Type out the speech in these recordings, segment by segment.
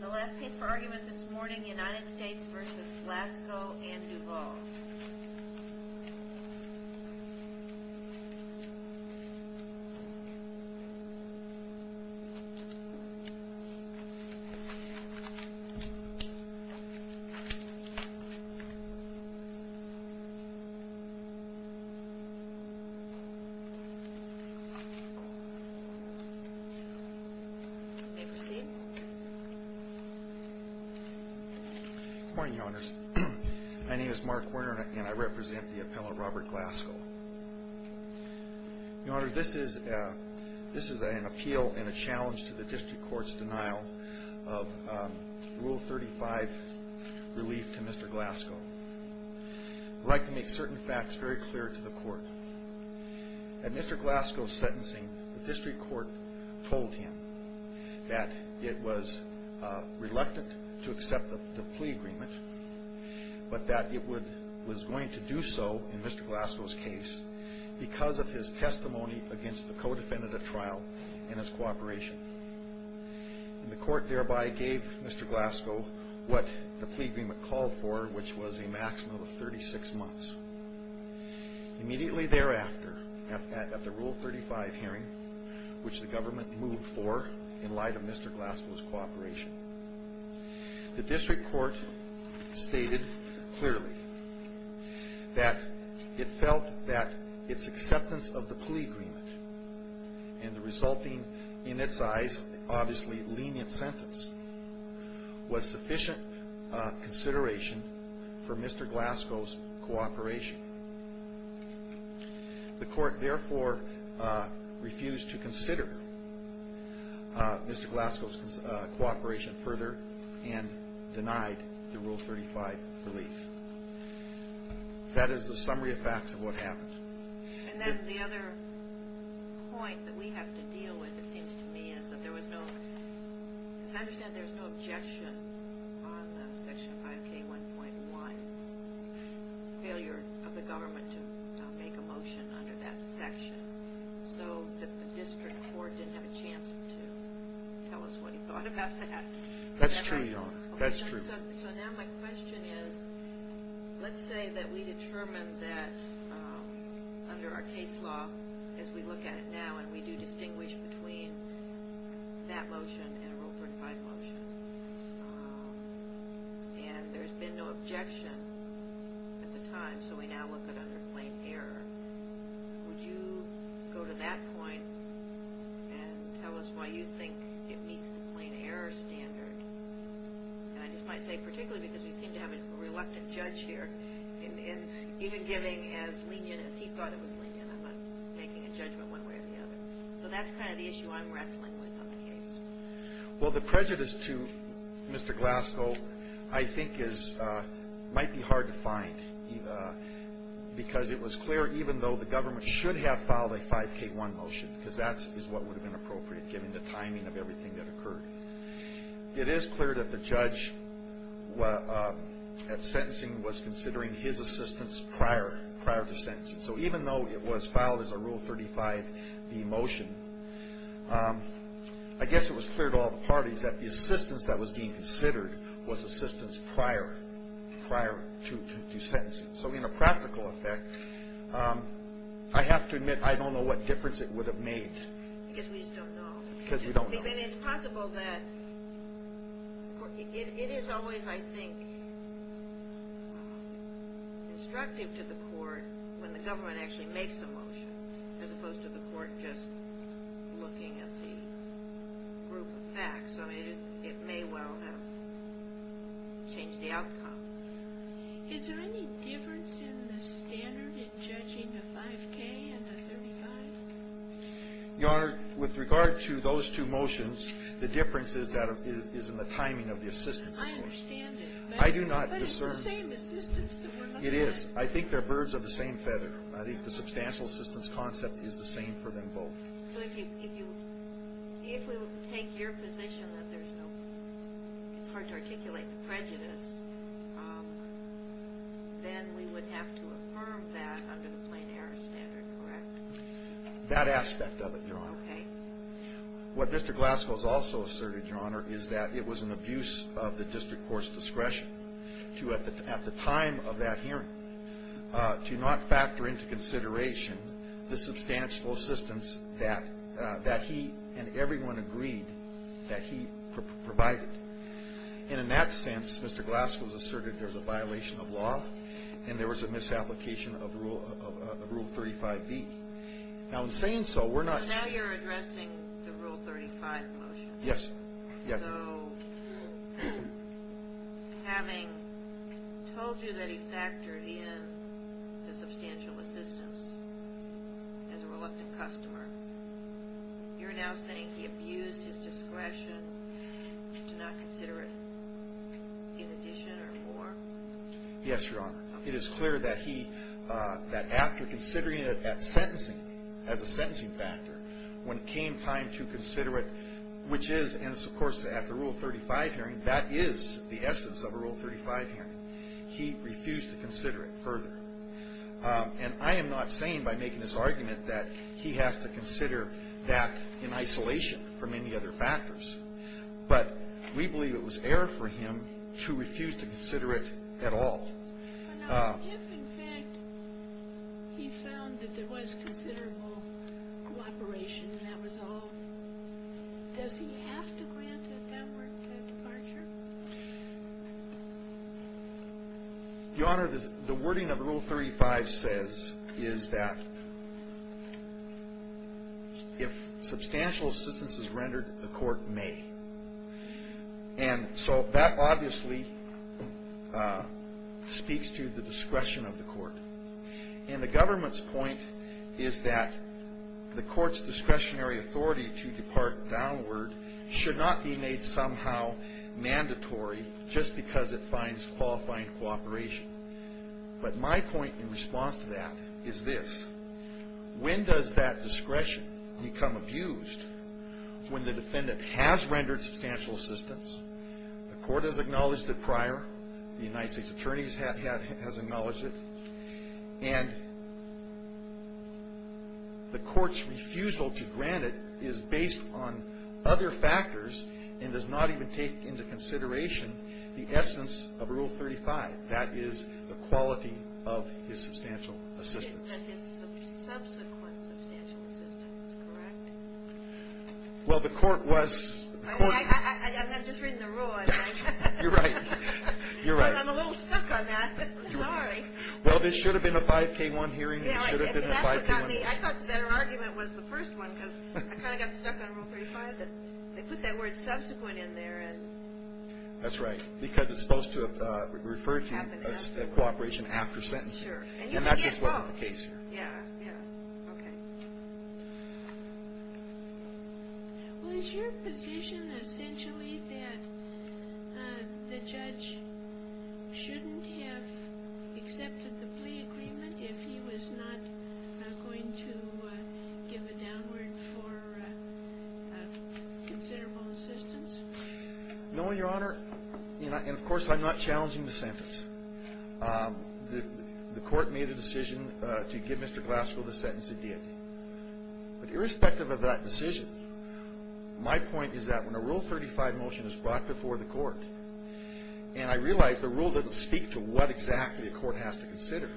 The last case for argument this morning, United States v. Glasgow and Duval. Good morning, Your Honors. My name is Mark Werner, and I represent the appellant Robert Glasgow. Your Honor, this is an appeal and a challenge to the district court's denial of Rule 35 relief to Mr. Glasgow. I'd like to make certain facts very clear to the court. At Mr. Glasgow's sentencing, the district court told him that it was reluctant to accept the plea agreement, but that it was going to do so in Mr. Glasgow's case because of his testimony against the co-defendant at trial and his cooperation. The court thereby gave Mr. Glasgow what the plea agreement called for, which was a maximum of 36 months. Immediately thereafter, at the Rule 35 hearing, which the government moved for in light of Mr. Glasgow's cooperation, the district court stated clearly that it felt that its acceptance of the plea agreement and the resulting, in its eyes, obviously lenient sentence was sufficient consideration for Mr. Glasgow's cooperation. The court therefore refused to consider Mr. Glasgow's cooperation further and denied the Rule 35 relief. That is the summary of facts of what happened. And then the other point that we have to deal with, it seems to me, is that there was no – because I understand there was no objection on the Section 5K1.1, failure of the government to make a motion under that section, so that the district court didn't have a chance to tell us what he thought about that. That's true, Your Honor. That's true. So now my question is, let's say that we determine that under our case law, as we look at it now, and we do distinguish between that motion and a Rule 35 motion, and there's been no objection at the time, so we now look at it under plain error. Would you go to that point and tell us why you think it meets the plain error standard? And I just might say particularly because we seem to have a reluctant judge here, and even giving as lenient as he thought it was lenient, I'm not making a judgment one way or the other. So that's kind of the issue I'm wrestling with on the case. Well, the prejudice to Mr. Glasgow, I think, might be hard to find, because it was clear, even though the government should have filed a 5K1 motion, because that is what would have been appropriate given the timing of everything that occurred. It is clear that the judge at sentencing was considering his assistance prior to sentencing. So even though it was filed as a Rule 35B motion, I guess it was clear to all the parties that the assistance that was being considered was assistance prior to sentencing. So in a practical effect, I have to admit I don't know what difference it would have made. Because we just don't know. Because we don't know. But it's possible that it is always, I think, instructive to the court when the government actually makes a motion, as opposed to the court just looking at the group of facts. I mean, it may well have changed the outcome. Is there any difference in the standard in judging a 5K and a 35? Your Honor, with regard to those two motions, the difference is in the timing of the assistance motion. I understand it. I do not discern. But it's the same assistance that we're looking at. It is. I think they're birds of the same feather. I think the substantial assistance concept is the same for them both. So if you take your position that it's hard to articulate the prejudice, then we would have to affirm that under the plain error standard, correct? That aspect of it, Your Honor. Okay. What Mr. Glasgow has also asserted, Your Honor, is that it was an abuse of the district court's discretion at the time of that hearing to not factor into consideration the substantial assistance that he and everyone agreed that he provided. And in that sense, Mr. Glasgow has asserted there was a violation of law and there was a misapplication of Rule 35B. Now, in saying so, we're not – So now you're addressing the Rule 35 motion. Yes. So having told you that he factored in the substantial assistance as a reluctant customer, you're now saying he abused his discretion to not consider it in addition or more? Yes, Your Honor. It is clear that he – that after considering it at sentencing, as a sentencing factor, when it came time to consider it, which is – and it's, of course, at the Rule 35 hearing. That is the essence of a Rule 35 hearing. He refused to consider it further. And I am not saying by making this argument that he has to consider that in isolation from any other factors. But we believe it was error for him to refuse to consider it at all. Now, if, in fact, he found that there was considerable cooperation and that was all, does he have to grant at that point a departure? Your Honor, the wording of Rule 35 says is that if substantial assistance is rendered, the court may. And so that obviously speaks to the discretion of the court. And the government's point is that the court's discretionary authority to depart downward should not be made somehow mandatory just because it finds qualifying cooperation. But my point in response to that is this. When does that discretion become abused? When the defendant has rendered substantial assistance, the court has acknowledged it prior, the United States attorneys have acknowledged it, and the court's refusal to grant it is based on other factors and does not even take into consideration the essence of Rule 35. That is the quality of his substantial assistance. And his subsequent substantial assistance, correct? Well, the court was – I mean, I've just written the rule. You're right. You're right. I'm a little stuck on that. Sorry. Well, this should have been a 5K1 hearing. It should have been a 5K1 hearing. I thought their argument was the first one because I kind of got stuck on Rule 35. They put that word subsequent in there. That's right, because it's supposed to have referred to cooperation after sentencing. And that just wasn't the case here. Yeah, yeah. Okay. Well, is your position essentially that the judge shouldn't have accepted the plea agreement if he was not going to give a downward for considerable assistance? No, Your Honor, and, of course, I'm not challenging the sentence. The court made a decision to give Mr. Glassville the sentence it did. But irrespective of that decision, my point is that when a Rule 35 motion is brought before the court and I realize the rule doesn't speak to what exactly a court has to consider,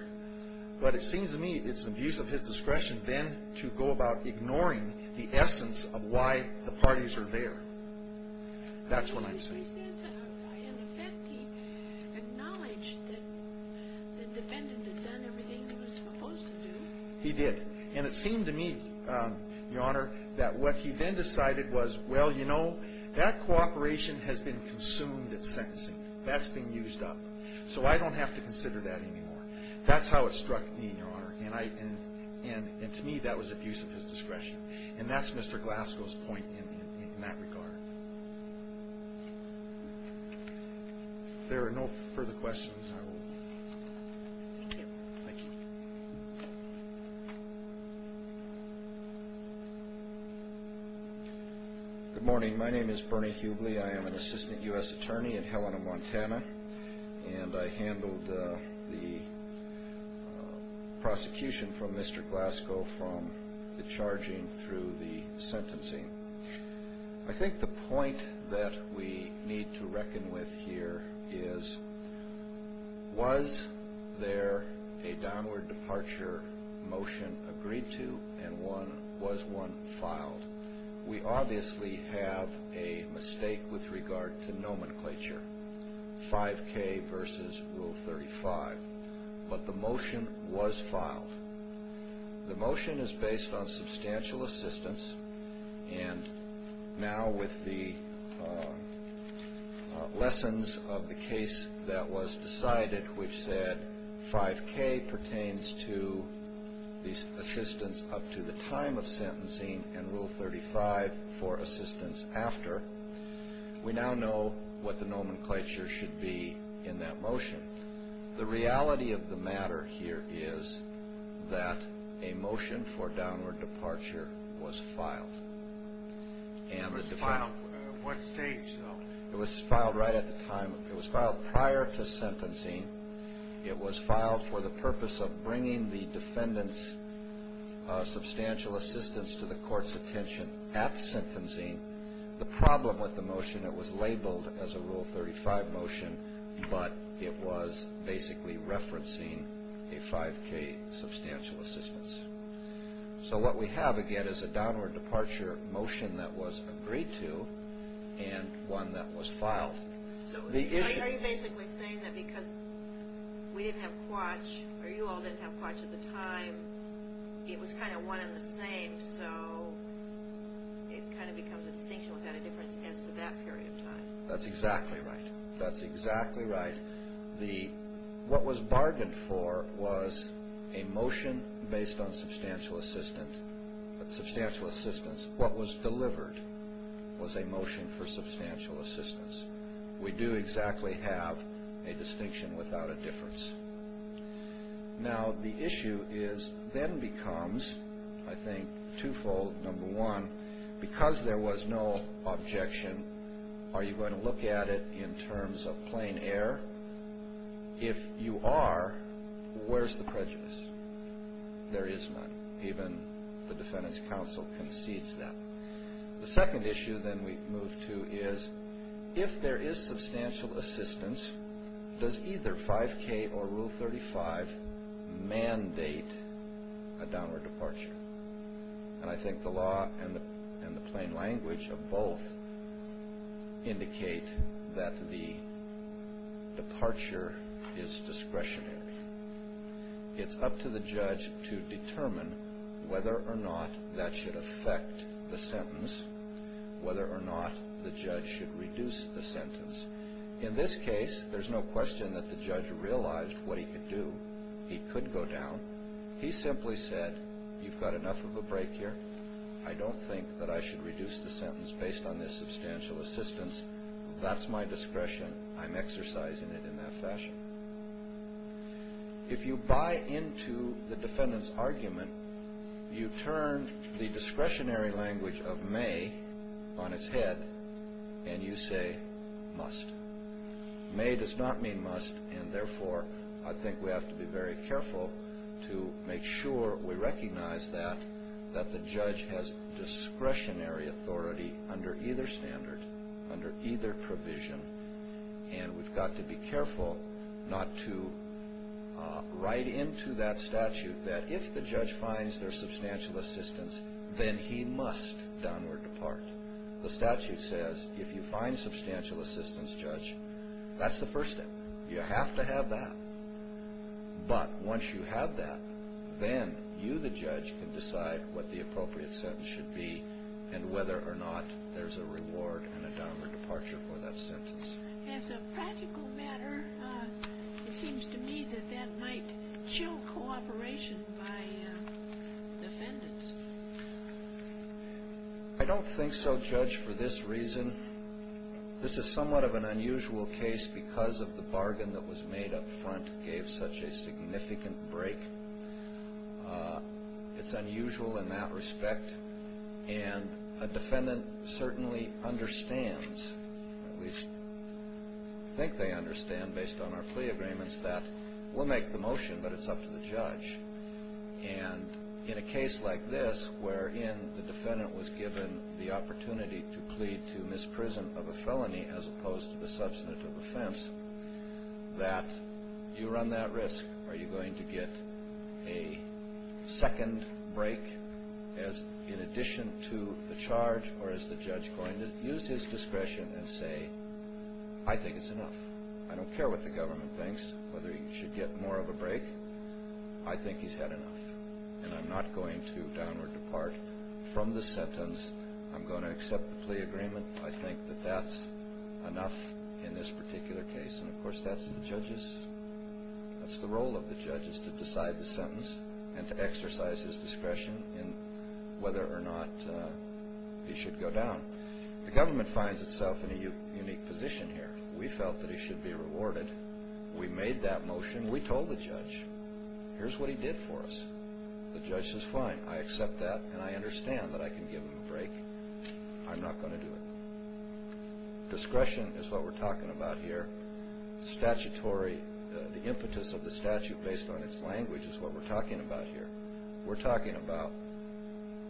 but it seems to me it's an abuse of his discretion then to go about ignoring the essence of why the parties are there. That's what I'm saying. He says in effect he acknowledged that the defendant had done everything he was supposed to do. He did. And it seemed to me, Your Honor, that what he then decided was, well, you know, that cooperation has been consumed at sentencing. That's been used up. So I don't have to consider that anymore. That's how it struck me, Your Honor, and to me that was abuse of his discretion. And that's Mr. Glassville's point in that regard. If there are no further questions, I will. Thank you. Thank you. Good morning. My name is Bernie Hubley. I am an assistant U.S. attorney in Helena, Montana, and I handled the prosecution from Mr. Glassville from the charging through the sentencing. I think the point that we need to reckon with here is, was there a downward departure motion agreed to and was one filed? We obviously have a mistake with regard to nomenclature, 5K versus Rule 35. But the motion was filed. The motion is based on substantial assistance, and now with the lessons of the case that was decided, which said 5K pertains to the assistance up to the time of sentencing and Rule 35 for assistance after, we now know what the nomenclature should be in that motion. The reality of the matter here is that a motion for downward departure was filed. It was filed at what stage, though? It was filed right at the time. It was filed prior to sentencing. It was filed for the purpose of bringing the defendant's substantial assistance to the court's attention at sentencing. The problem with the motion, it was labeled as a Rule 35 motion, but it was basically referencing a 5K substantial assistance. So what we have, again, is a downward departure motion that was agreed to and one that was filed. Are you basically saying that because we didn't have quatch, or you all didn't have quatch at the time, it was kind of one and the same, so it kind of becomes a distinction without a difference as to that period of time? That's exactly right. That's exactly right. What was bargained for was a motion based on substantial assistance. What was delivered was a motion for substantial assistance. We do exactly have a distinction without a difference. Now, the issue then becomes, I think, twofold. Number one, because there was no objection, are you going to look at it in terms of plain air? If you are, where's the prejudice? There is none. Even the defendant's counsel concedes that. The second issue then we move to is, if there is substantial assistance, does either 5K or Rule 35 mandate a downward departure? And I think the law and the plain language of both indicate that the departure is discretionary. It's up to the judge to determine whether or not that should affect the sentence, whether or not the judge should reduce the sentence. In this case, there's no question that the judge realized what he could do. He could go down. He simply said, you've got enough of a break here. I don't think that I should reduce the sentence based on this substantial assistance. That's my discretion. I'm exercising it in that fashion. If you buy into the defendant's argument, you turn the discretionary language of may on its head, and you say must. May does not mean must, and therefore I think we have to be very careful to make sure we recognize that, that the judge has discretionary authority under either standard, under either provision, and we've got to be careful not to write into that statute that if the judge finds there's substantial assistance, then he must downward depart. The statute says if you find substantial assistance, judge, that's the first step. You have to have that. But once you have that, then you, the judge, can decide what the appropriate sentence should be and whether or not there's a reward and a downward departure for that sentence. As a practical matter, it seems to me that that might show cooperation by defendants. I don't think so, Judge, for this reason. This is somewhat of an unusual case because of the bargain that was made up front gave such a significant break. It's unusual in that respect, and a defendant certainly understands, at least I think they understand based on our plea agreements, that we'll make the motion, but it's up to the judge. And in a case like this, wherein the defendant was given the opportunity to plead to misprison of a felony as opposed to the substantive offense, that you run that risk. Are you going to get a second break in addition to the charge, or is the judge going to use his discretion and say, I think it's enough? I don't care what the government thinks, whether he should get more of a break. I think he's had enough, and I'm not going to downward depart from the sentence. I'm going to accept the plea agreement. I think that that's enough in this particular case. And, of course, that's the role of the judge is to decide the sentence and to exercise his discretion in whether or not he should go down. The government finds itself in a unique position here. We felt that he should be rewarded. We made that motion. We told the judge, here's what he did for us. The judge says, fine, I accept that, and I understand that I can give him a break. I'm not going to do it. Discretion is what we're talking about here. Statutory, the impetus of the statute based on its language is what we're talking about here. We're talking about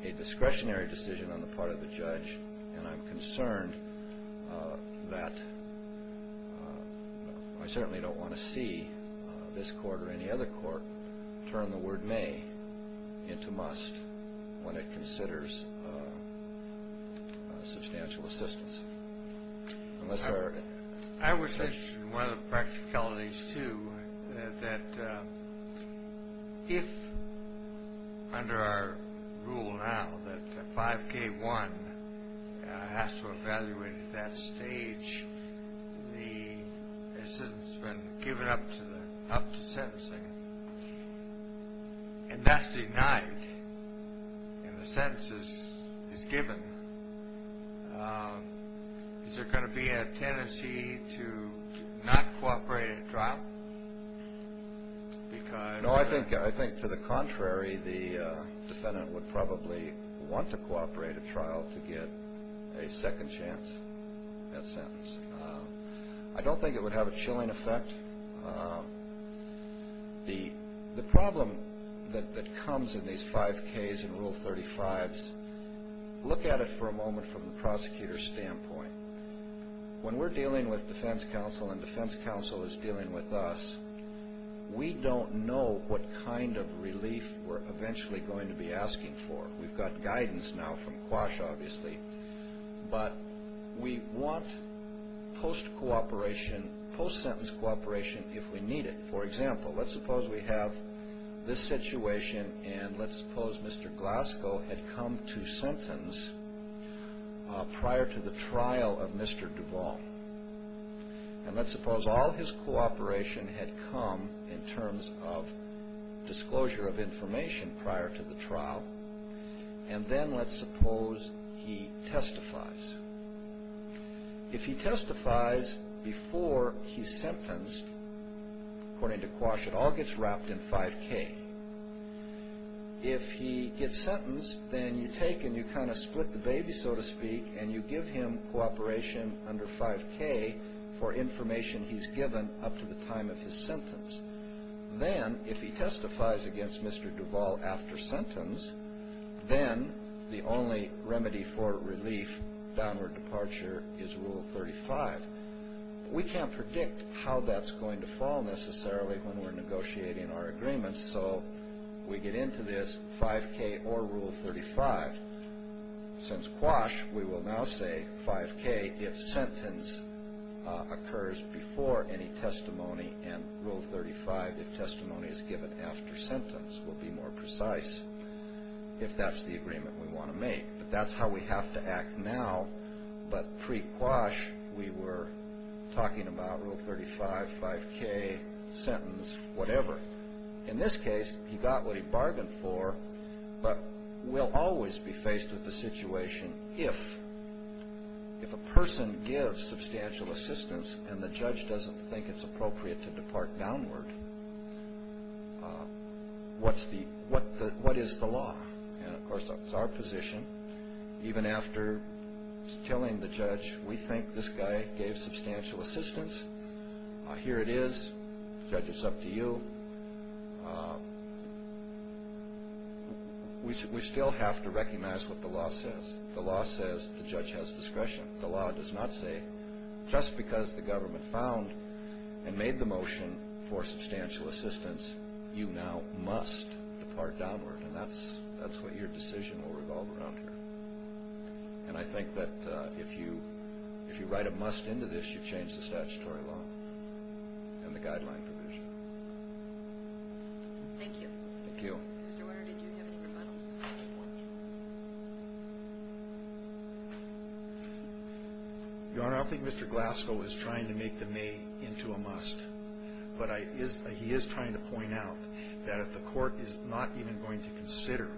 a discretionary decision on the part of the judge, and I'm concerned that I certainly don't want to see this court or any other court turn the word may into must when it considers substantial assistance. I was interested in one of the practicalities, too, that if under our rule now that 5K1 has to evaluate at that stage, the assistance has been given up to sentencing, and that's denied, and the sentence is given, is there going to be a tendency to not cooperate at trial? No, I think to the contrary. The defendant would probably want to cooperate at trial to get a second chance at sentence. I don't think it would have a chilling effect. The problem that comes in these 5Ks and Rule 35s, look at it for a moment from the prosecutor's standpoint. When we're dealing with defense counsel and defense counsel is dealing with us, we don't know what kind of relief we're eventually going to be asking for. But we want post-sentence cooperation if we need it. For example, let's suppose we have this situation, and let's suppose Mr. Glasgow had come to sentence prior to the trial of Mr. Duvall, and let's suppose all his cooperation had come in terms of disclosure of information prior to the trial, and then let's suppose he testifies. If he testifies before he's sentenced, according to Quash, it all gets wrapped in 5K. If he gets sentenced, then you take and you kind of split the baby, so to speak, and you give him cooperation under 5K for information he's given up to the time of his sentence. Then if he testifies against Mr. Duvall after sentence, then the only remedy for relief, downward departure, is Rule 35. We can't predict how that's going to fall necessarily when we're negotiating our agreements, so we get into this 5K or Rule 35. Since Quash, we will now say 5K if sentence occurs before any testimony, and Rule 35 if testimony is given after sentence. We'll be more precise if that's the agreement we want to make. But that's how we have to act now. But pre-Quash, we were talking about Rule 35, 5K, sentence, whatever. In this case, he got what he bargained for, but we'll always be faced with the situation if a person gives substantial assistance and the judge doesn't think it's appropriate to depart downward, what is the law? Of course, that's our position. Even after telling the judge, we think this guy gave substantial assistance. Here it is. Judge, it's up to you. We still have to recognize what the law says. The law says the judge has discretion. The law does not say just because the government found and made the motion for substantial assistance, you now must depart downward, and that's what your decision will revolve around here. And I think that if you write a must into this, you change the statutory law and the guideline provision. Thank you. Thank you. Mr. Warner, did you have any rebuttals? Your Honor, I don't think Mr. Glasgow is trying to make the may into a must, but he is trying to point out that if the court is not even going to consider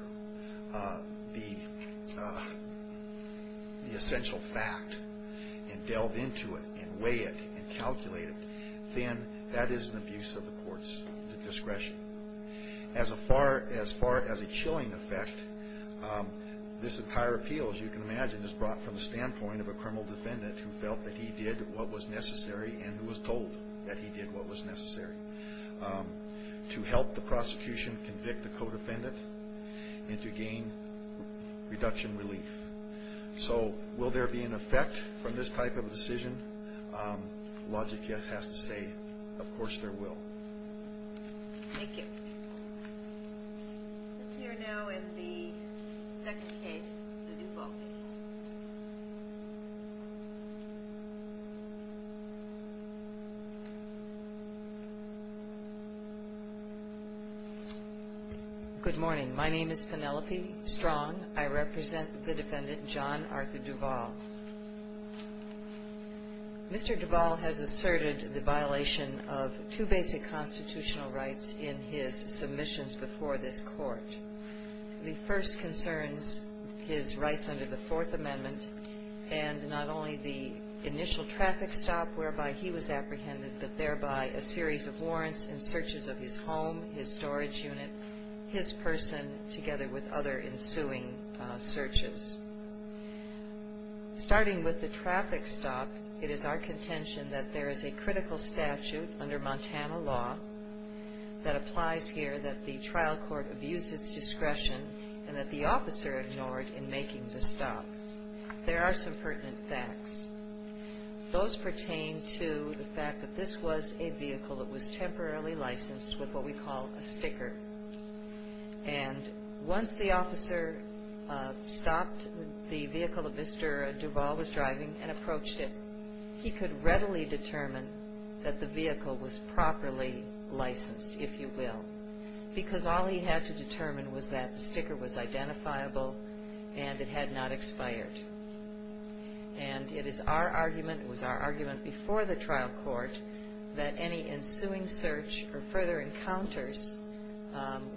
the essential fact and delve into it and weigh it and calculate it, then that is an abuse of the court's discretion. As far as a chilling effect, this entire appeal, as you can imagine, is brought from the standpoint of a criminal defendant who felt that he did what was necessary and was told that he did what was necessary. To help the prosecution convict the co-defendant and to gain reduction relief. So will there be an effect from this type of decision? Logic has to say, of course there will. Thank you. Let's hear now in the second case, the Duval case. Good morning. My name is Penelope Strong. I represent the defendant, John Arthur Duval. Mr. Duval has asserted the violation of two basic constitutional rights in his submissions before this court. The first concerns his rights under the Fourth Amendment and not only the initial traffic stop whereby he was apprehended, but thereby a series of warrants and searches of his home, his storage unit, his person together with other ensuing searches. Starting with the traffic stop, it is our contention that there is a critical statute under Montana law that applies here that the trial court abused its discretion and that the officer ignored in making the stop. There are some pertinent facts. Those pertain to the fact that this was a vehicle that was temporarily licensed with what we call a sticker. And once the officer stopped the vehicle that Mr. Duval was driving and approached it, he could readily determine that the vehicle was properly licensed, if you will, because all he had to determine was that the sticker was identifiable and it had not expired. And it is our argument, it was our argument before the trial court, that any ensuing search or further encounters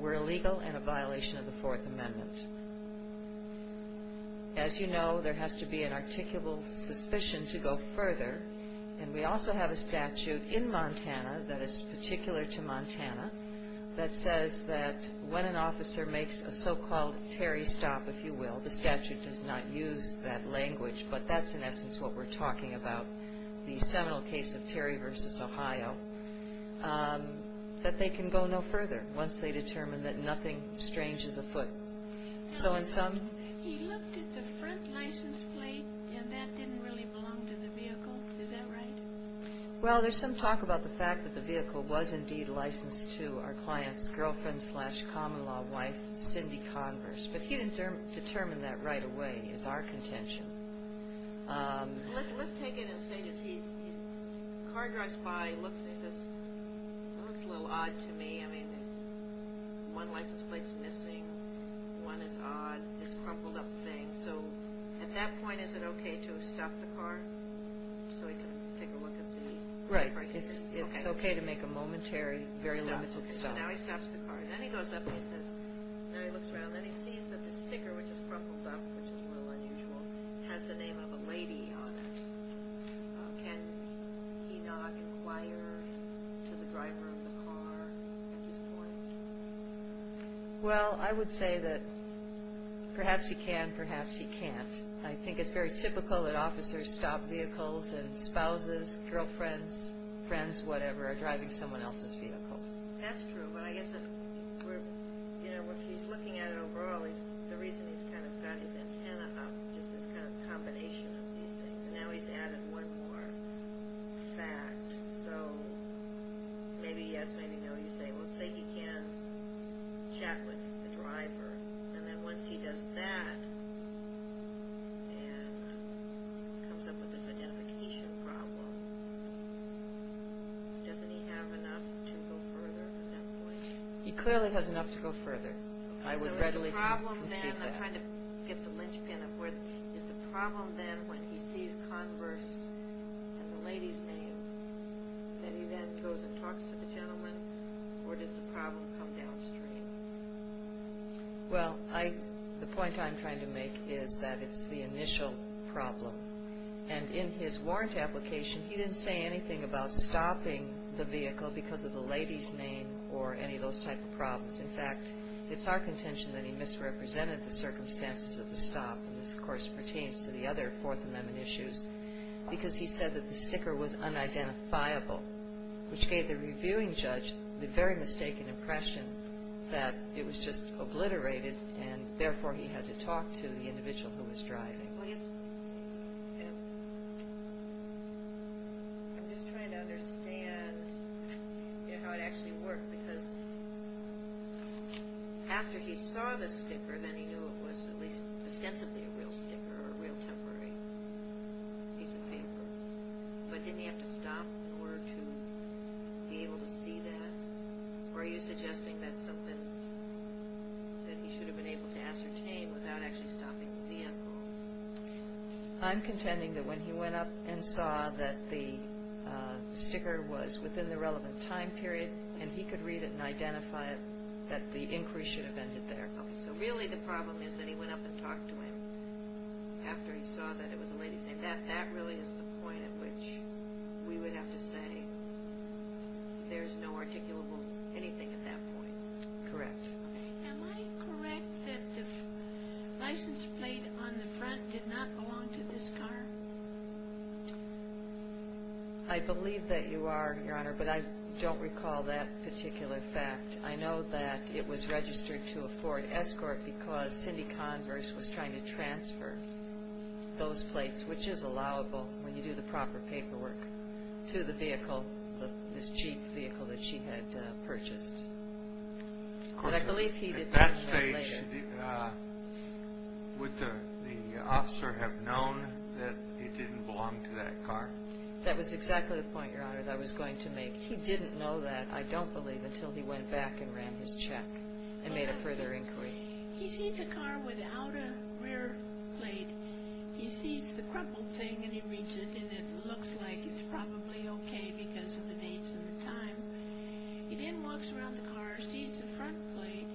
were illegal and a violation of the Fourth Amendment. As you know, there has to be an articulable suspicion to go further, and we also have a statute in Montana that is particular to Montana that says that when an officer makes a so-called Terry stop, if you will, the statute does not use that language, but that's in essence what we're talking about, the seminal case of Terry v. Ohio, that they can go no further once they determine that nothing strange is afoot. So in some... He looked at the front license plate and that didn't really belong to the vehicle. Is that right? Well, there's some talk about the fact that the vehicle was indeed licensed to our client's girlfriend-slash-common-law wife, Cindy Converse, but he didn't determine that right away, is our contention. Let's take it in stages. The car drives by, he looks and he says, that looks a little odd to me. I mean, one license plate's missing, one is odd, it's a crumpled up thing. So at that point, is it okay to stop the car so he can take a look at the license plate? Right, it's okay to make a momentary, very limited stop. Okay, so now he stops the car. Then he goes up and he looks around and he sees that the sticker, which is crumpled up, which is a little unusual, has the name of a lady on it. Can he not inquire to the driver of the car at this point? Well, I would say that perhaps he can, perhaps he can't. I think it's very typical that officers stop vehicles and spouses, girlfriends, friends, whatever, are driving someone else's vehicle. That's true, but I guess, you know, if he's looking at it overall, the reason he's kind of got his antenna up is this kind of combination of these things. Now he's added one more fact. So maybe yes, maybe no. You say, well, say he can't chat with the driver. And then once he does that and comes up with this identification problem, doesn't he have enough to go further at that point? He clearly has enough to go further. I would readily concede that. So the problem then, I'm trying to get the linchpin of where, is the problem then when he sees Converse and the lady's name that he then goes and talks to the gentleman? Or does the problem come downstream? Well, the point I'm trying to make is that it's the initial problem. And in his warrant application, he didn't say anything about stopping the vehicle because of the lady's name or any of those type of problems. In fact, it's our contention that he misrepresented the circumstances of the stop, and this, of course, pertains to the other Fourth Amendment issues, because he said that the sticker was unidentifiable, which gave the reviewing judge the very mistaken impression that it was just obliterated and therefore he had to talk to the individual who was driving. I'm just trying to understand how it actually worked. Because after he saw the sticker, then he knew it was at least ostensibly a real sticker or a real temporary piece of paper. But didn't he have to stop in order to be able to see that? Or are you suggesting that's something that he should have been able to ascertain when he came without actually stopping the vehicle? I'm contending that when he went up and saw that the sticker was within the relevant time period and he could read it and identify it, that the inquiry should have ended there. So really the problem is that he went up and talked to him after he saw that it was a lady's name. That really is the point at which we would have to say there's no articulable anything at that point. Correct. Am I correct that the license plate on the front did not belong to this car? I believe that you are, Your Honor, but I don't recall that particular fact. I know that it was registered to a Ford Escort because Cindy Converse was trying to transfer those plates, which is allowable when you do the proper paperwork, to the vehicle, this Jeep vehicle that she had purchased. At that stage, would the officer have known that it didn't belong to that car? That was exactly the point, Your Honor, that I was going to make. He didn't know that, I don't believe, until he went back and ran his check and made a further inquiry. He sees a car without a rear plate. He sees the crumpled thing and he reads it and it looks like it's probably okay because of the dates and the time. He then walks around the car, sees the front plate,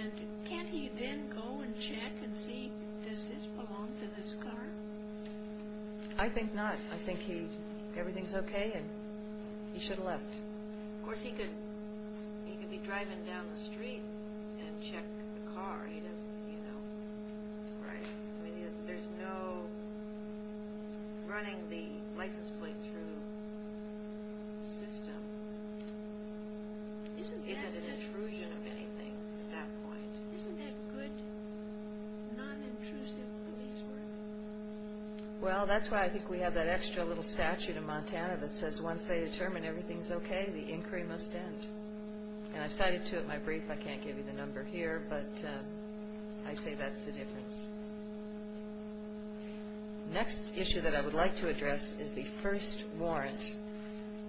and can't he then go and check and see, does this belong to this car? I think not. I think everything's okay and he should have left. Of course, he could be driving down the street and check the car. There's no running the license plate through system. Isn't that intrusive? Isn't it an intrusion of anything at that point? Isn't that good, non-intrusive police work? Well, that's why I think we have that extra little statute in Montana that says once they determine everything's okay, the inquiry must end. And I've cited to it in my brief. I can't give you the number here, but I say that's the difference. Next issue that I would like to address is the first warrant,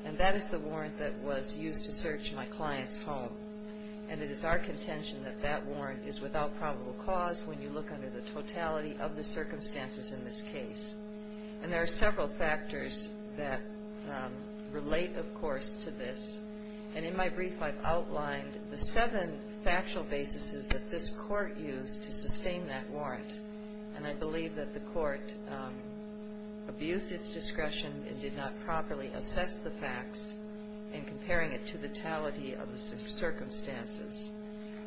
and that is the warrant that was used to search my client's home. And it is our contention that that warrant is without probable cause when you look under the totality of the circumstances in this case. And there are several factors that relate, of course, to this. And in my brief, I've outlined the seven factual basis that this court used to sustain that warrant. And I believe that the court abused its discretion and did not properly assess the facts in comparing it to the totality of the circumstances.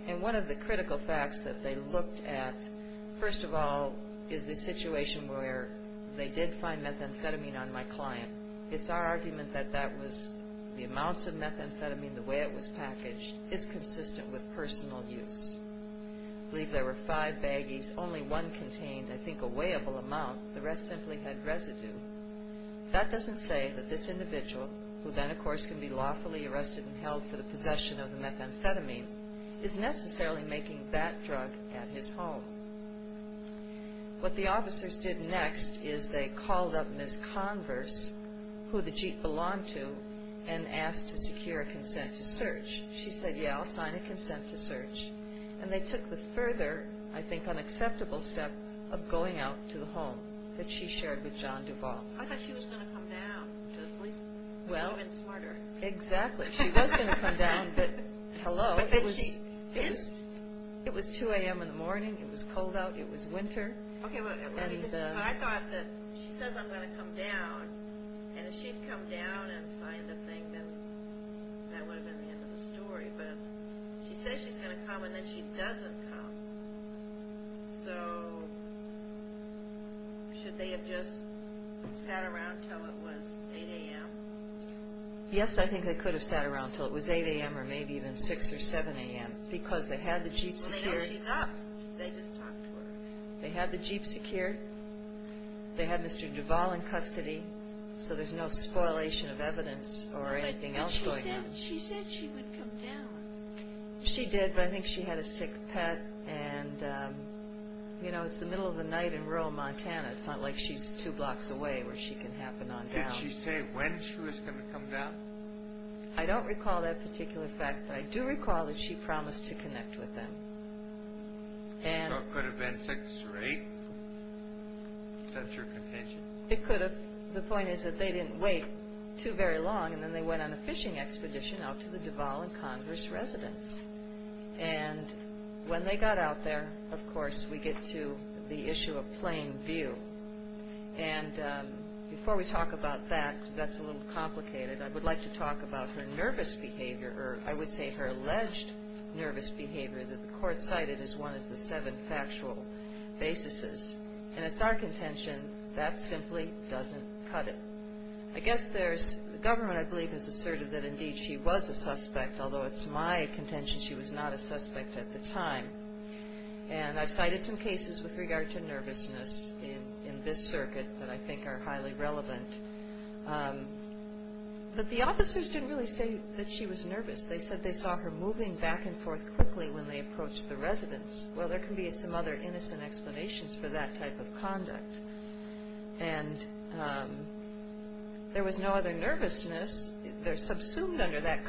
And one of the critical facts that they looked at, first of all, is the situation where they did find methamphetamine on my client. It's our argument that that was the amounts of methamphetamine, the way it was packaged, is consistent with personal use. I believe there were five baggies. Only one contained, I think, a weighable amount. The rest simply had residue. That doesn't say that this individual, who then, of course, can be lawfully arrested and held for the possession of the methamphetamine, is necessarily making that drug at his home. What the officers did next is they called up Ms. Converse, who the jeep belonged to, and asked to secure a consent to search. She said, yeah, I'll sign a consent to search. And they took the further, I think, unacceptable step of going out to the home that she shared with John Duvall. I thought she was going to come down to the police station. Well. She would have been smarter. Exactly. She was going to come down, but hello. It was 2 a.m. in the morning. It was cold out. It was winter. I thought that she says I'm going to come down, and if she'd come down and signed the thing, then that would have been the end of the story. But she says she's going to come, and then she doesn't come. So should they have just sat around until it was 8 a.m.? Yes, I think they could have sat around until it was 8 a.m. or maybe even 6 or 7 a.m. Because they had the jeep secured. They know she's up. They just talked to her. They had the jeep secured. They had Mr. Duvall in custody, so there's no spoilation of evidence or anything else going on. But she said she would come down. She did, but I think she had a sick pet, and, you know, it's the middle of the night in rural Montana. It's not like she's two blocks away where she can happen on down. Did she say when she was going to come down? I don't recall that particular fact, but I do recall that she promised to connect with them. So it could have been 6 or 8 since your contention? It could have. The point is that they didn't wait too very long, and then they went on a fishing expedition out to the Duvall and Congress residence. And when they got out there, of course, we get to the issue of plain view. And before we talk about that, because that's a little complicated, I would like to talk about her nervous behavior, or I would say her alleged nervous behavior, that the court cited as one of the seven factual basis. And it's our contention that simply doesn't cut it. I guess the government, I believe, has asserted that, indeed, she was a suspect, although it's my contention she was not a suspect at the time. And I've cited some cases with regard to nervousness in this circuit that I think are highly relevant. But the officers didn't really say that she was nervous. They said they saw her moving back and forth quickly when they approached the residence. Well, there can be some other innocent explanations for that type of conduct. And there was no other nervousness. They're subsumed under that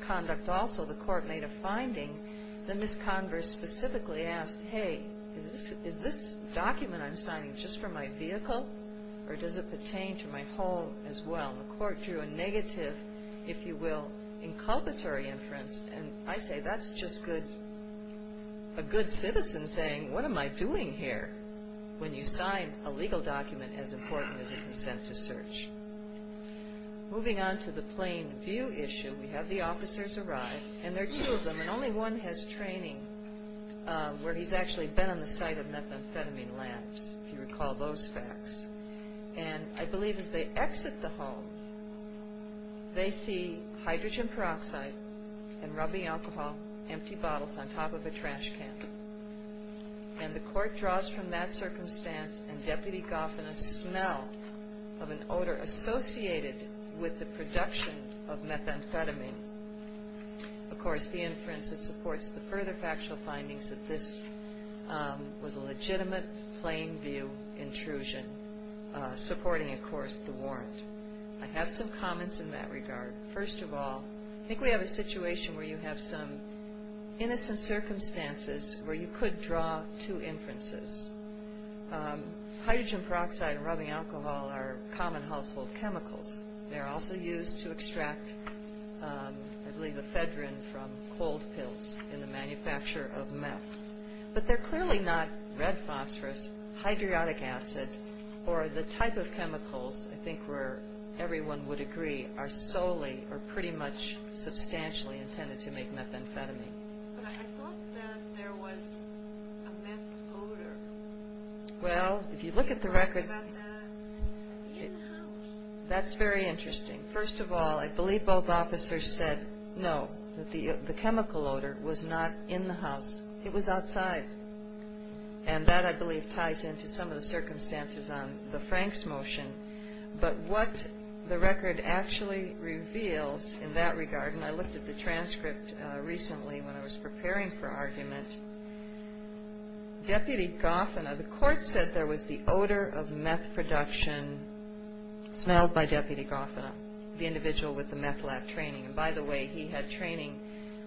conduct also. So the court made a finding. Then Ms. Converse specifically asked, Hey, is this document I'm signing just for my vehicle, or does it pertain to my home as well? The court drew a negative, if you will, inculpatory inference. And I say that's just a good citizen saying, What am I doing here when you sign a legal document as important as a consent to search? Moving on to the plain view issue, we have the officers arrive. And there are two of them, and only one has training where he's actually been on the site of methamphetamine labs, if you recall those facts. And I believe as they exit the hall, they see hydrogen peroxide and rubbing alcohol, empty bottles, on top of a trash can. And the court draws from that circumstance, and Deputy Goff, and a smell of an odor associated with the production of methamphetamine. Of course, the inference that supports the further factual findings that this was a legitimate plain view intrusion, supporting, of course, the warrant. I have some comments in that regard. First of all, I think we have a situation where you have some innocent circumstances where you could draw two inferences. Hydrogen peroxide and rubbing alcohol are common household chemicals. They're also used to extract, I believe, ephedrine from cold pills in the manufacture of meth. But they're clearly not red phosphorus, or the type of chemicals, I think, where everyone would agree, are solely or pretty much substantially intended to make methamphetamine. Well, if you look at the record, that's very interesting. First of all, I believe both officers said, no, the chemical odor was not in the house. It was outside. And that, I believe, ties into some of the circumstances on the Franks motion. But what the record actually reveals in that regard, and I looked at the transcript recently when I was preparing for argument, Deputy Goff and I, the court said there was the odor of meth production smelled by Deputy Goff and I, the individual with the meth lab training. And by the way, he had training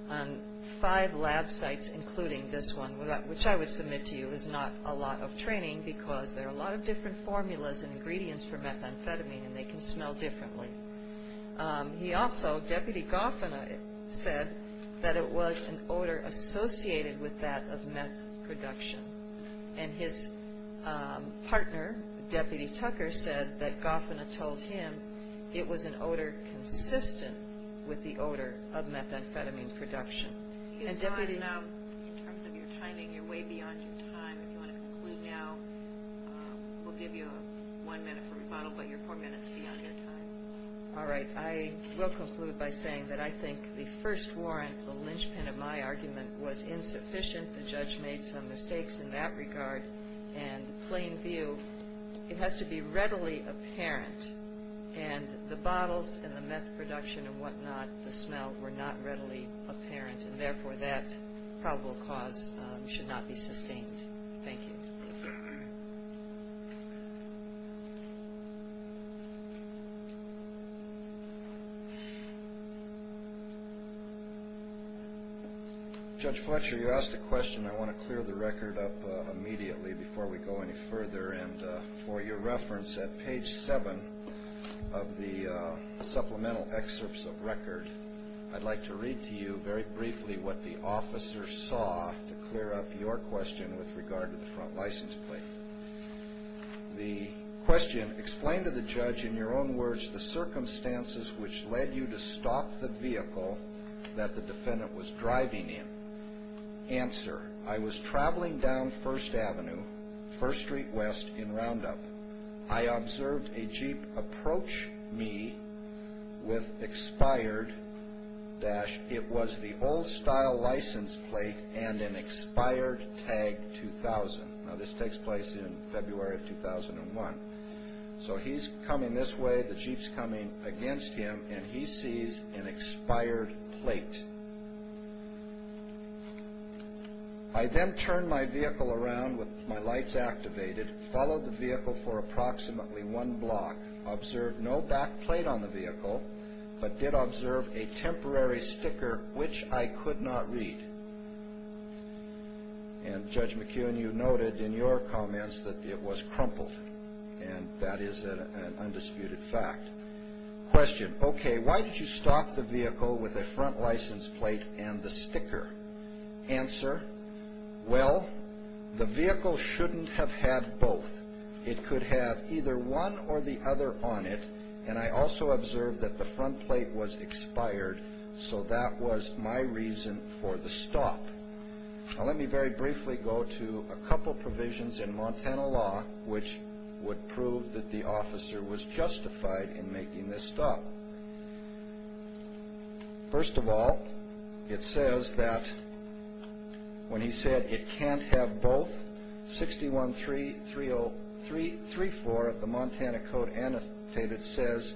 on five lab sites, including this one, which I would submit to you is not a lot of training because there are a lot of different formulas and ingredients for methamphetamine, and they can smell differently. He also, Deputy Goff and I, said that it was an odor associated with that of meth production. And his partner, Deputy Tucker, said that Goff and I told him it was an odor consistent with the odor of methamphetamine production. And, Deputy... You've gone now, in terms of your timing, you're way beyond your time. If you want to conclude now, we'll give you one minute for rebuttal, but you're four minutes beyond your time. All right. I will conclude by saying that I think the first warrant, the linchpin of my argument, was insufficient. The judge made some mistakes in that regard. In plain view, it has to be readily apparent, and the bottles and the meth production and whatnot, the smell, were not readily apparent, and therefore that probable cause should not be sustained. Thank you. Judge Fletcher, you asked a question. I want to clear the record up immediately before we go any further. And for your reference, at page 7 of the supplemental excerpts of record, I'd like to read to you very briefly what the officer saw to clear up your question with regard to the front license plate. The question, explain to the judge, in your own words, the circumstances which led you to stop the vehicle that the defendant was driving in. Answer, I was traveling down First Avenue, First Street West, in Roundup. I observed a Jeep approach me with expired dash. It was the old-style license plate and an expired tag 2000. Now, this takes place in February of 2001. So he's coming this way, the Jeep's coming against him, and he sees an expired plate. I then turned my vehicle around with my lights activated, followed the vehicle for approximately one block, observed no back plate on the vehicle, but did observe a temporary sticker, which I could not read. And Judge McKeown, you noted in your comments that it was crumpled, and that is an undisputed fact. Question, okay, why did you stop the vehicle with a front license plate and the sticker? Answer, well, the vehicle shouldn't have had both. It could have either one or the other on it, and I also observed that the front plate was expired, so that was my reason for the stop. Now, let me very briefly go to a couple provisions in Montana law which would prove that the officer was justified in making this stop. Well, first of all, it says that when he said it can't have both, 6133034 of the Montana Code Annotated says,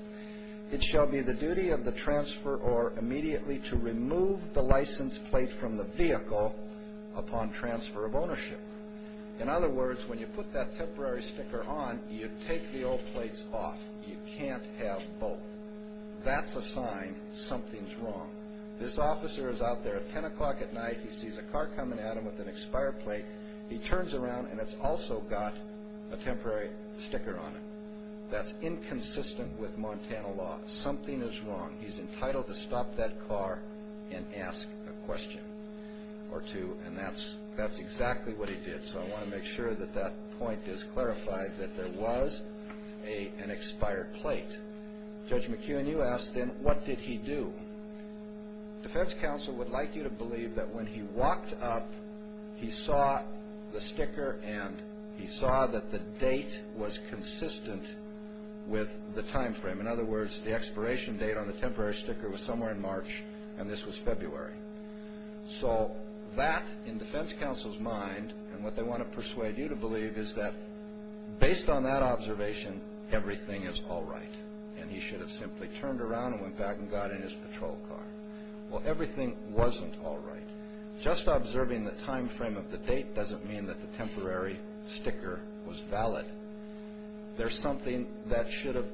it shall be the duty of the transfer or immediately to remove the license plate from the vehicle upon transfer of ownership. In other words, when you put that temporary sticker on, you take the old plates off. You can't have both. That's a sign something's wrong. This officer is out there at 10 o'clock at night. He sees a car coming at him with an expired plate. He turns around, and it's also got a temporary sticker on it. That's inconsistent with Montana law. Something is wrong. He's entitled to stop that car and ask a question or two, and that's exactly what he did. So I want to make sure that that point is clarified, that there was an expired plate. Judge McKeown, you asked then, what did he do? Defense counsel would like you to believe that when he walked up, he saw the sticker and he saw that the date was consistent with the time frame. In other words, the expiration date on the temporary sticker was somewhere in March, and this was February. So that, in defense counsel's mind, and what they want to persuade you to believe, is that based on that observation, everything is all right, and he should have simply turned around and went back and got in his patrol car. Well, everything wasn't all right. Just observing the time frame of the date doesn't mean that the temporary sticker was valid. There's something that should have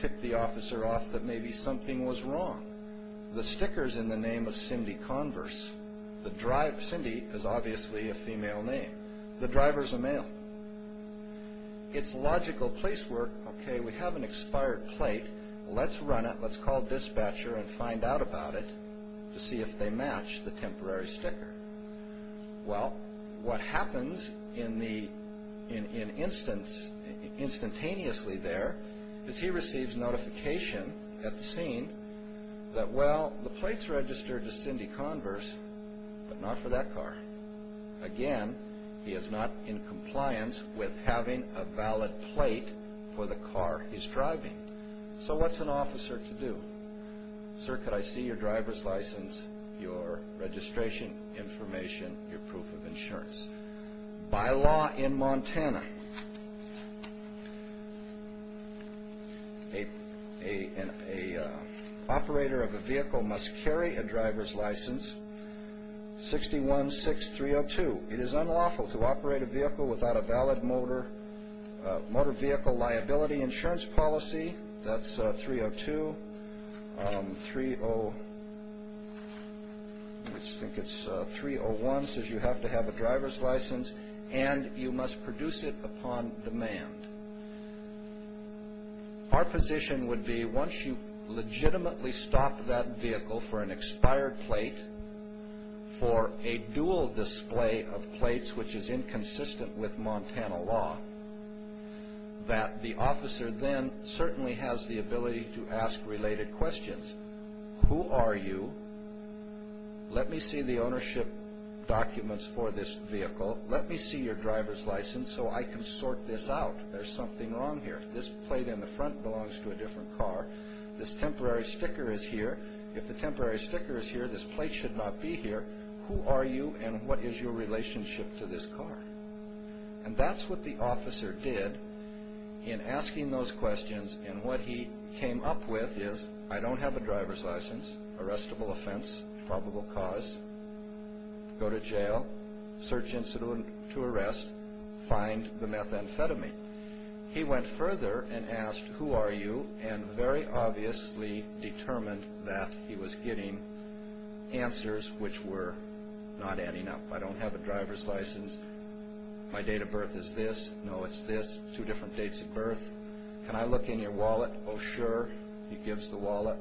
tipped the officer off that maybe something was wrong. The sticker's in the name of Cindy Converse. Cindy is obviously a female name. The driver's a male. It's logical place work. Okay, we have an expired plate. Let's run it. Let's call dispatcher and find out about it to see if they match the temporary sticker. Well, what happens instantaneously there is he receives notification at the scene that, well, the plate's registered to Cindy Converse, but not for that car. Again, he is not in compliance with having a valid plate for the car he's driving. So what's an officer to do? Sir, could I see your driver's license, your registration information, your proof of insurance? By law in Montana, an operator of a vehicle must carry a driver's license 616302. It is unlawful to operate a vehicle without a valid motor vehicle liability insurance policy. That's 302. 301 says you have to have a driver's license, and you must produce it upon demand. Our position would be once you legitimately stop that vehicle for an expired plate, for a dual display of plates which is inconsistent with Montana law, that the officer then certainly has the ability to ask related questions. Who are you? Let me see the ownership documents for this vehicle. Let me see your driver's license so I can sort this out. There's something wrong here. This plate in the front belongs to a different car. This temporary sticker is here. If the temporary sticker is here, this plate should not be here. Who are you, and what is your relationship to this car? And that's what the officer did in asking those questions, and what he came up with is, I don't have a driver's license, arrestable offense, probable cause, go to jail, search incident to arrest, find the methamphetamine. He went further and asked, who are you, and very obviously determined that he was getting answers which were not adding up. I don't have a driver's license. My date of birth is this. No, it's this. Two different dates of birth. Can I look in your wallet? Oh, sure. He gives the wallet.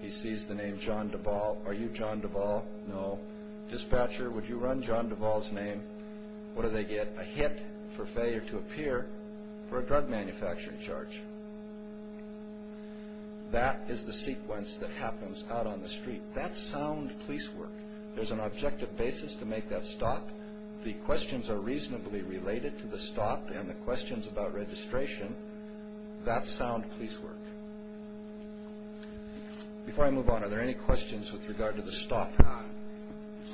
He sees the name John Duvall. Are you John Duvall? No. Dispatcher, would you run John Duvall's name? What do they get? A hit for failure to appear for a drug manufacturing charge. That is the sequence that happens out on the street. That's sound police work. There's an objective basis to make that stop. The questions are reasonably related to the stop and the questions about registration. That's sound police work. Before I move on, are there any questions with regard to the stop?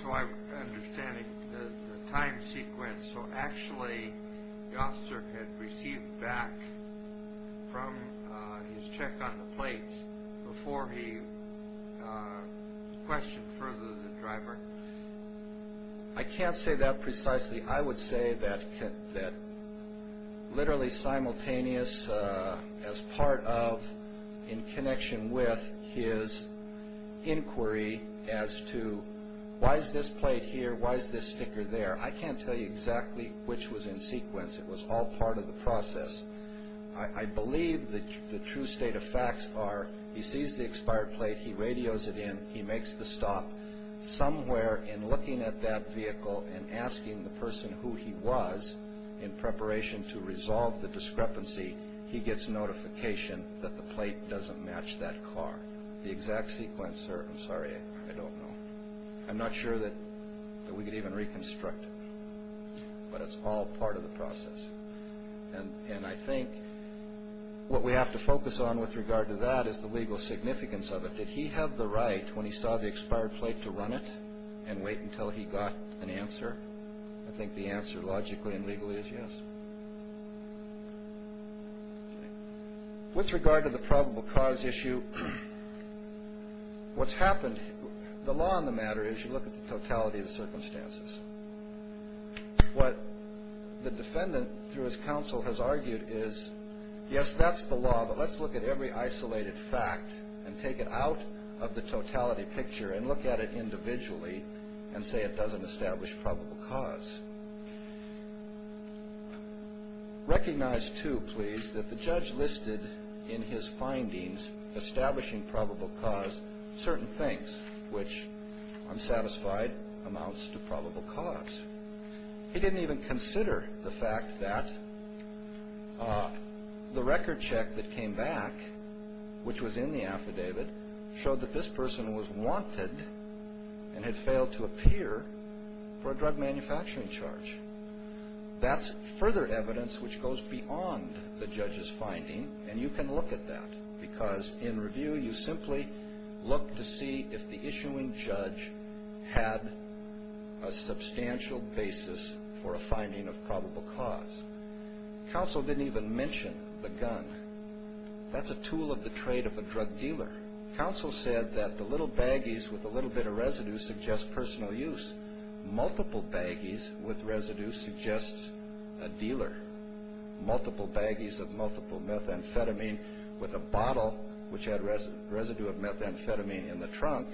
So I'm understanding the time sequence. So actually the officer had received back from his check on the plates before he questioned further the driver? I can't say that precisely. I would say that literally simultaneous as part of in connection with his inquiry as to why is this plate here, why is this sticker there? I can't tell you exactly which was in sequence. It was all part of the process. I believe the true state of facts are he sees the expired plate. He radios it in. He makes the stop. Somewhere in looking at that vehicle and asking the person who he was in preparation to resolve the discrepancy, he gets notification that the plate doesn't match that car. The exact sequence, sir? I'm sorry. I don't know. I'm not sure that we could even reconstruct it, but it's all part of the process. And I think what we have to focus on with regard to that is the legal significance of it. Did he have the right when he saw the expired plate to run it and wait until he got an answer? I think the answer logically and legally is yes. With regard to the probable cause issue, what's happened? The law on the matter is you look at the totality of the circumstances. What the defendant, through his counsel, has argued is, yes, that's the law, but let's look at every isolated fact and take it out of the totality picture and look at it individually and say it doesn't establish probable cause. Recognize, too, please, that the judge listed in his findings establishing probable cause certain things, which, I'm satisfied, amounts to probable cause. He didn't even consider the fact that the record check that came back, which was in the affidavit, showed that this person was wanted and had failed to appear for a drug manufacturing charge. That's further evidence which goes beyond the judge's finding, and you can look at that, because in review you simply look to see if the issuing judge had a substantial basis for a finding of probable cause. Counsel didn't even mention the gun. That's a tool of the trade of a drug dealer. Counsel said that the little baggies with a little bit of residue suggest personal use. Multiple baggies with residue suggests a dealer. Multiple baggies of multiple methamphetamine with a bottle which had residue of methamphetamine in the trunk,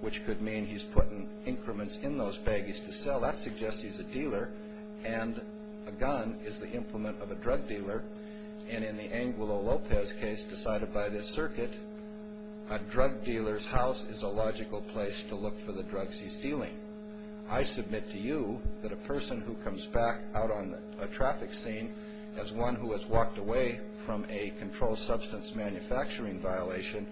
which could mean he's putting increments in those baggies to sell. That suggests he's a dealer, and a gun is the implement of a drug dealer, and in the Angulo Lopez case decided by this circuit, a drug dealer's house is a logical place to look for the drugs he's dealing. I submit to you that a person who comes back out on a traffic scene as one who has walked away from a controlled substance manufacturing violation,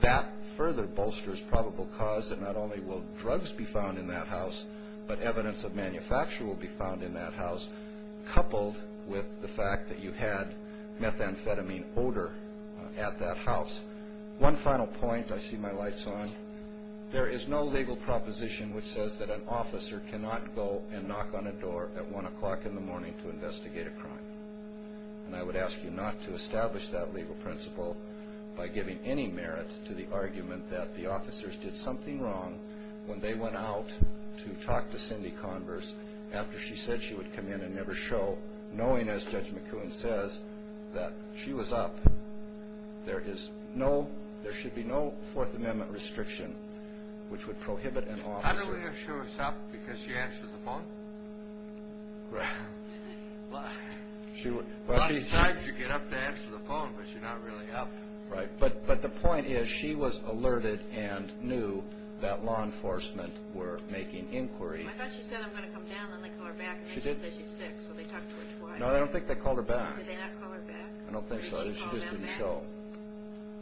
that further bolsters probable cause that not only will drugs be found in that house, but evidence of manufacture will be found in that house, coupled with the fact that you had methamphetamine odor at that house. One final point, I see my lights on. There is no legal proposition which says that an officer cannot go and knock on a door at 1 o'clock in the morning to investigate a crime. And I would ask you not to establish that legal principle by giving any merit to the argument that the officers did something wrong when they went out to talk to Cindy Converse after she said she would come in and never show, knowing, as Judge McCoon says, that she was up. There should be no Fourth Amendment restriction which would prohibit an officer. How do we know she was up because she answered the phone? Lots of times you get up to answer the phone, but you're not really up. Right, but the point is she was alerted and knew that law enforcement were making inquiry. I thought she said, I'm going to come down, then they call her back, and then she said she's sick, so they talked to her twice. No, I don't think they called her back. Did they not call her back? I don't think so. Or did she call them back? She just didn't show.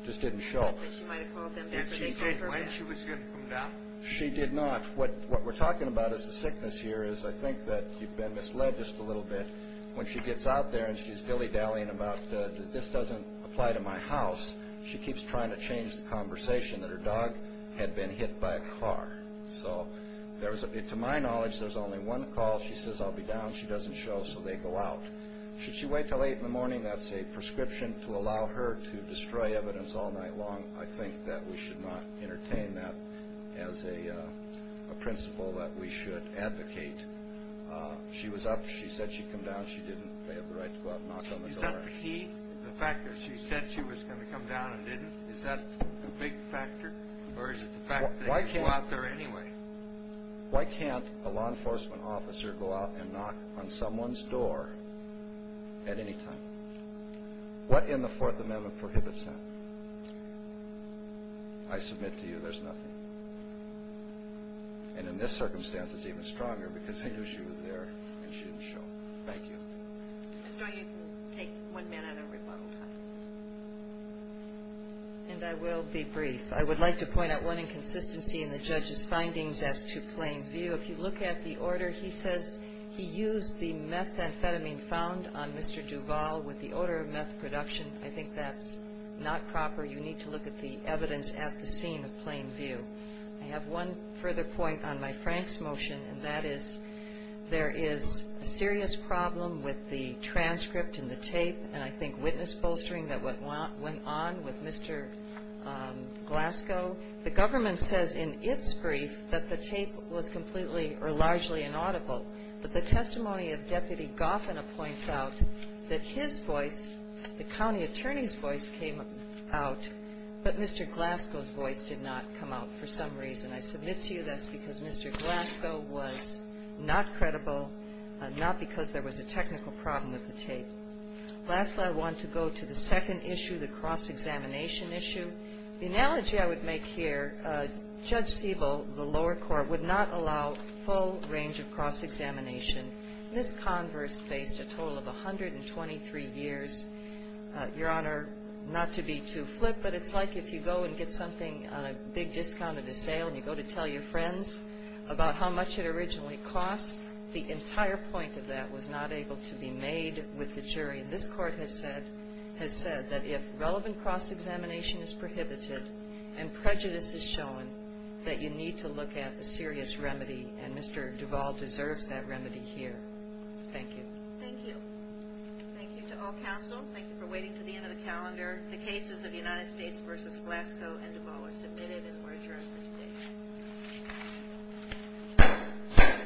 Just didn't show. She might have called them back. And she did when she was here to come down. She did not. What we're talking about is the sickness here is I think that you've been misled just a little bit. When she gets out there and she's dilly-dallying about this doesn't apply to my house, she keeps trying to change the conversation that her dog had been hit by a car. So to my knowledge, there's only one call. She says, I'll be down. She doesn't show, so they go out. Should she wait until 8 in the morning? That's a prescription to allow her to destroy evidence all night long. I think that we should not entertain that as a principle that we should advocate. She was up. She said she'd come down. She didn't. They have the right to go out and knock on the door. Is that the key? The fact that she said she was going to come down and didn't? Is that the big factor? Or is it the fact that they can go out there anyway? Why can't a law enforcement officer go out and knock on someone's door at any time? What in the Fourth Amendment prohibits that? I submit to you there's nothing. And in this circumstance, it's even stronger because they knew she was there, and she didn't show. Thank you. Mr. O'Hagan, we'll take one minute of your rebuttal time. And I will be brief. I would like to point out one inconsistency in the judge's findings as to plain view. If you look at the order, he says he used the methamphetamine found on Mr. Duvall with the order of meth production. I think that's not proper. You need to look at the evidence at the scene of plain view. I have one further point on my Frank's motion, and that is there is a serious problem with the transcript and the tape and I think witness bolstering that went on with Mr. Glasgow. The government says in its brief that the tape was completely or largely inaudible. But the testimony of Deputy Goffin points out that his voice, the county attorney's voice came out, but Mr. Glasgow's voice did not come out for some reason. I submit to you that's because Mr. Glasgow was not credible, not because there was a technical problem with the tape. Lastly, I want to go to the second issue, the cross-examination issue. The analogy I would make here, Judge Siebel, the lower court, would not allow full range of cross-examination. This converse faced a total of 123 years. Your Honor, not to be too flip, but it's like if you go and get something on a big discount at a sale and you go to tell your friends about how much it originally cost. The entire point of that was not able to be made with the jury. This court has said that if relevant cross-examination is prohibited and prejudice is shown, that you need to look at a serious remedy, and Mr. Duvall deserves that remedy here. Thank you. Thank you. Thank you to all counsel. Thank you for waiting to the end of the calendar. The cases of the United States v. Glasgow and Duvall are submitted and we're adjourned for today.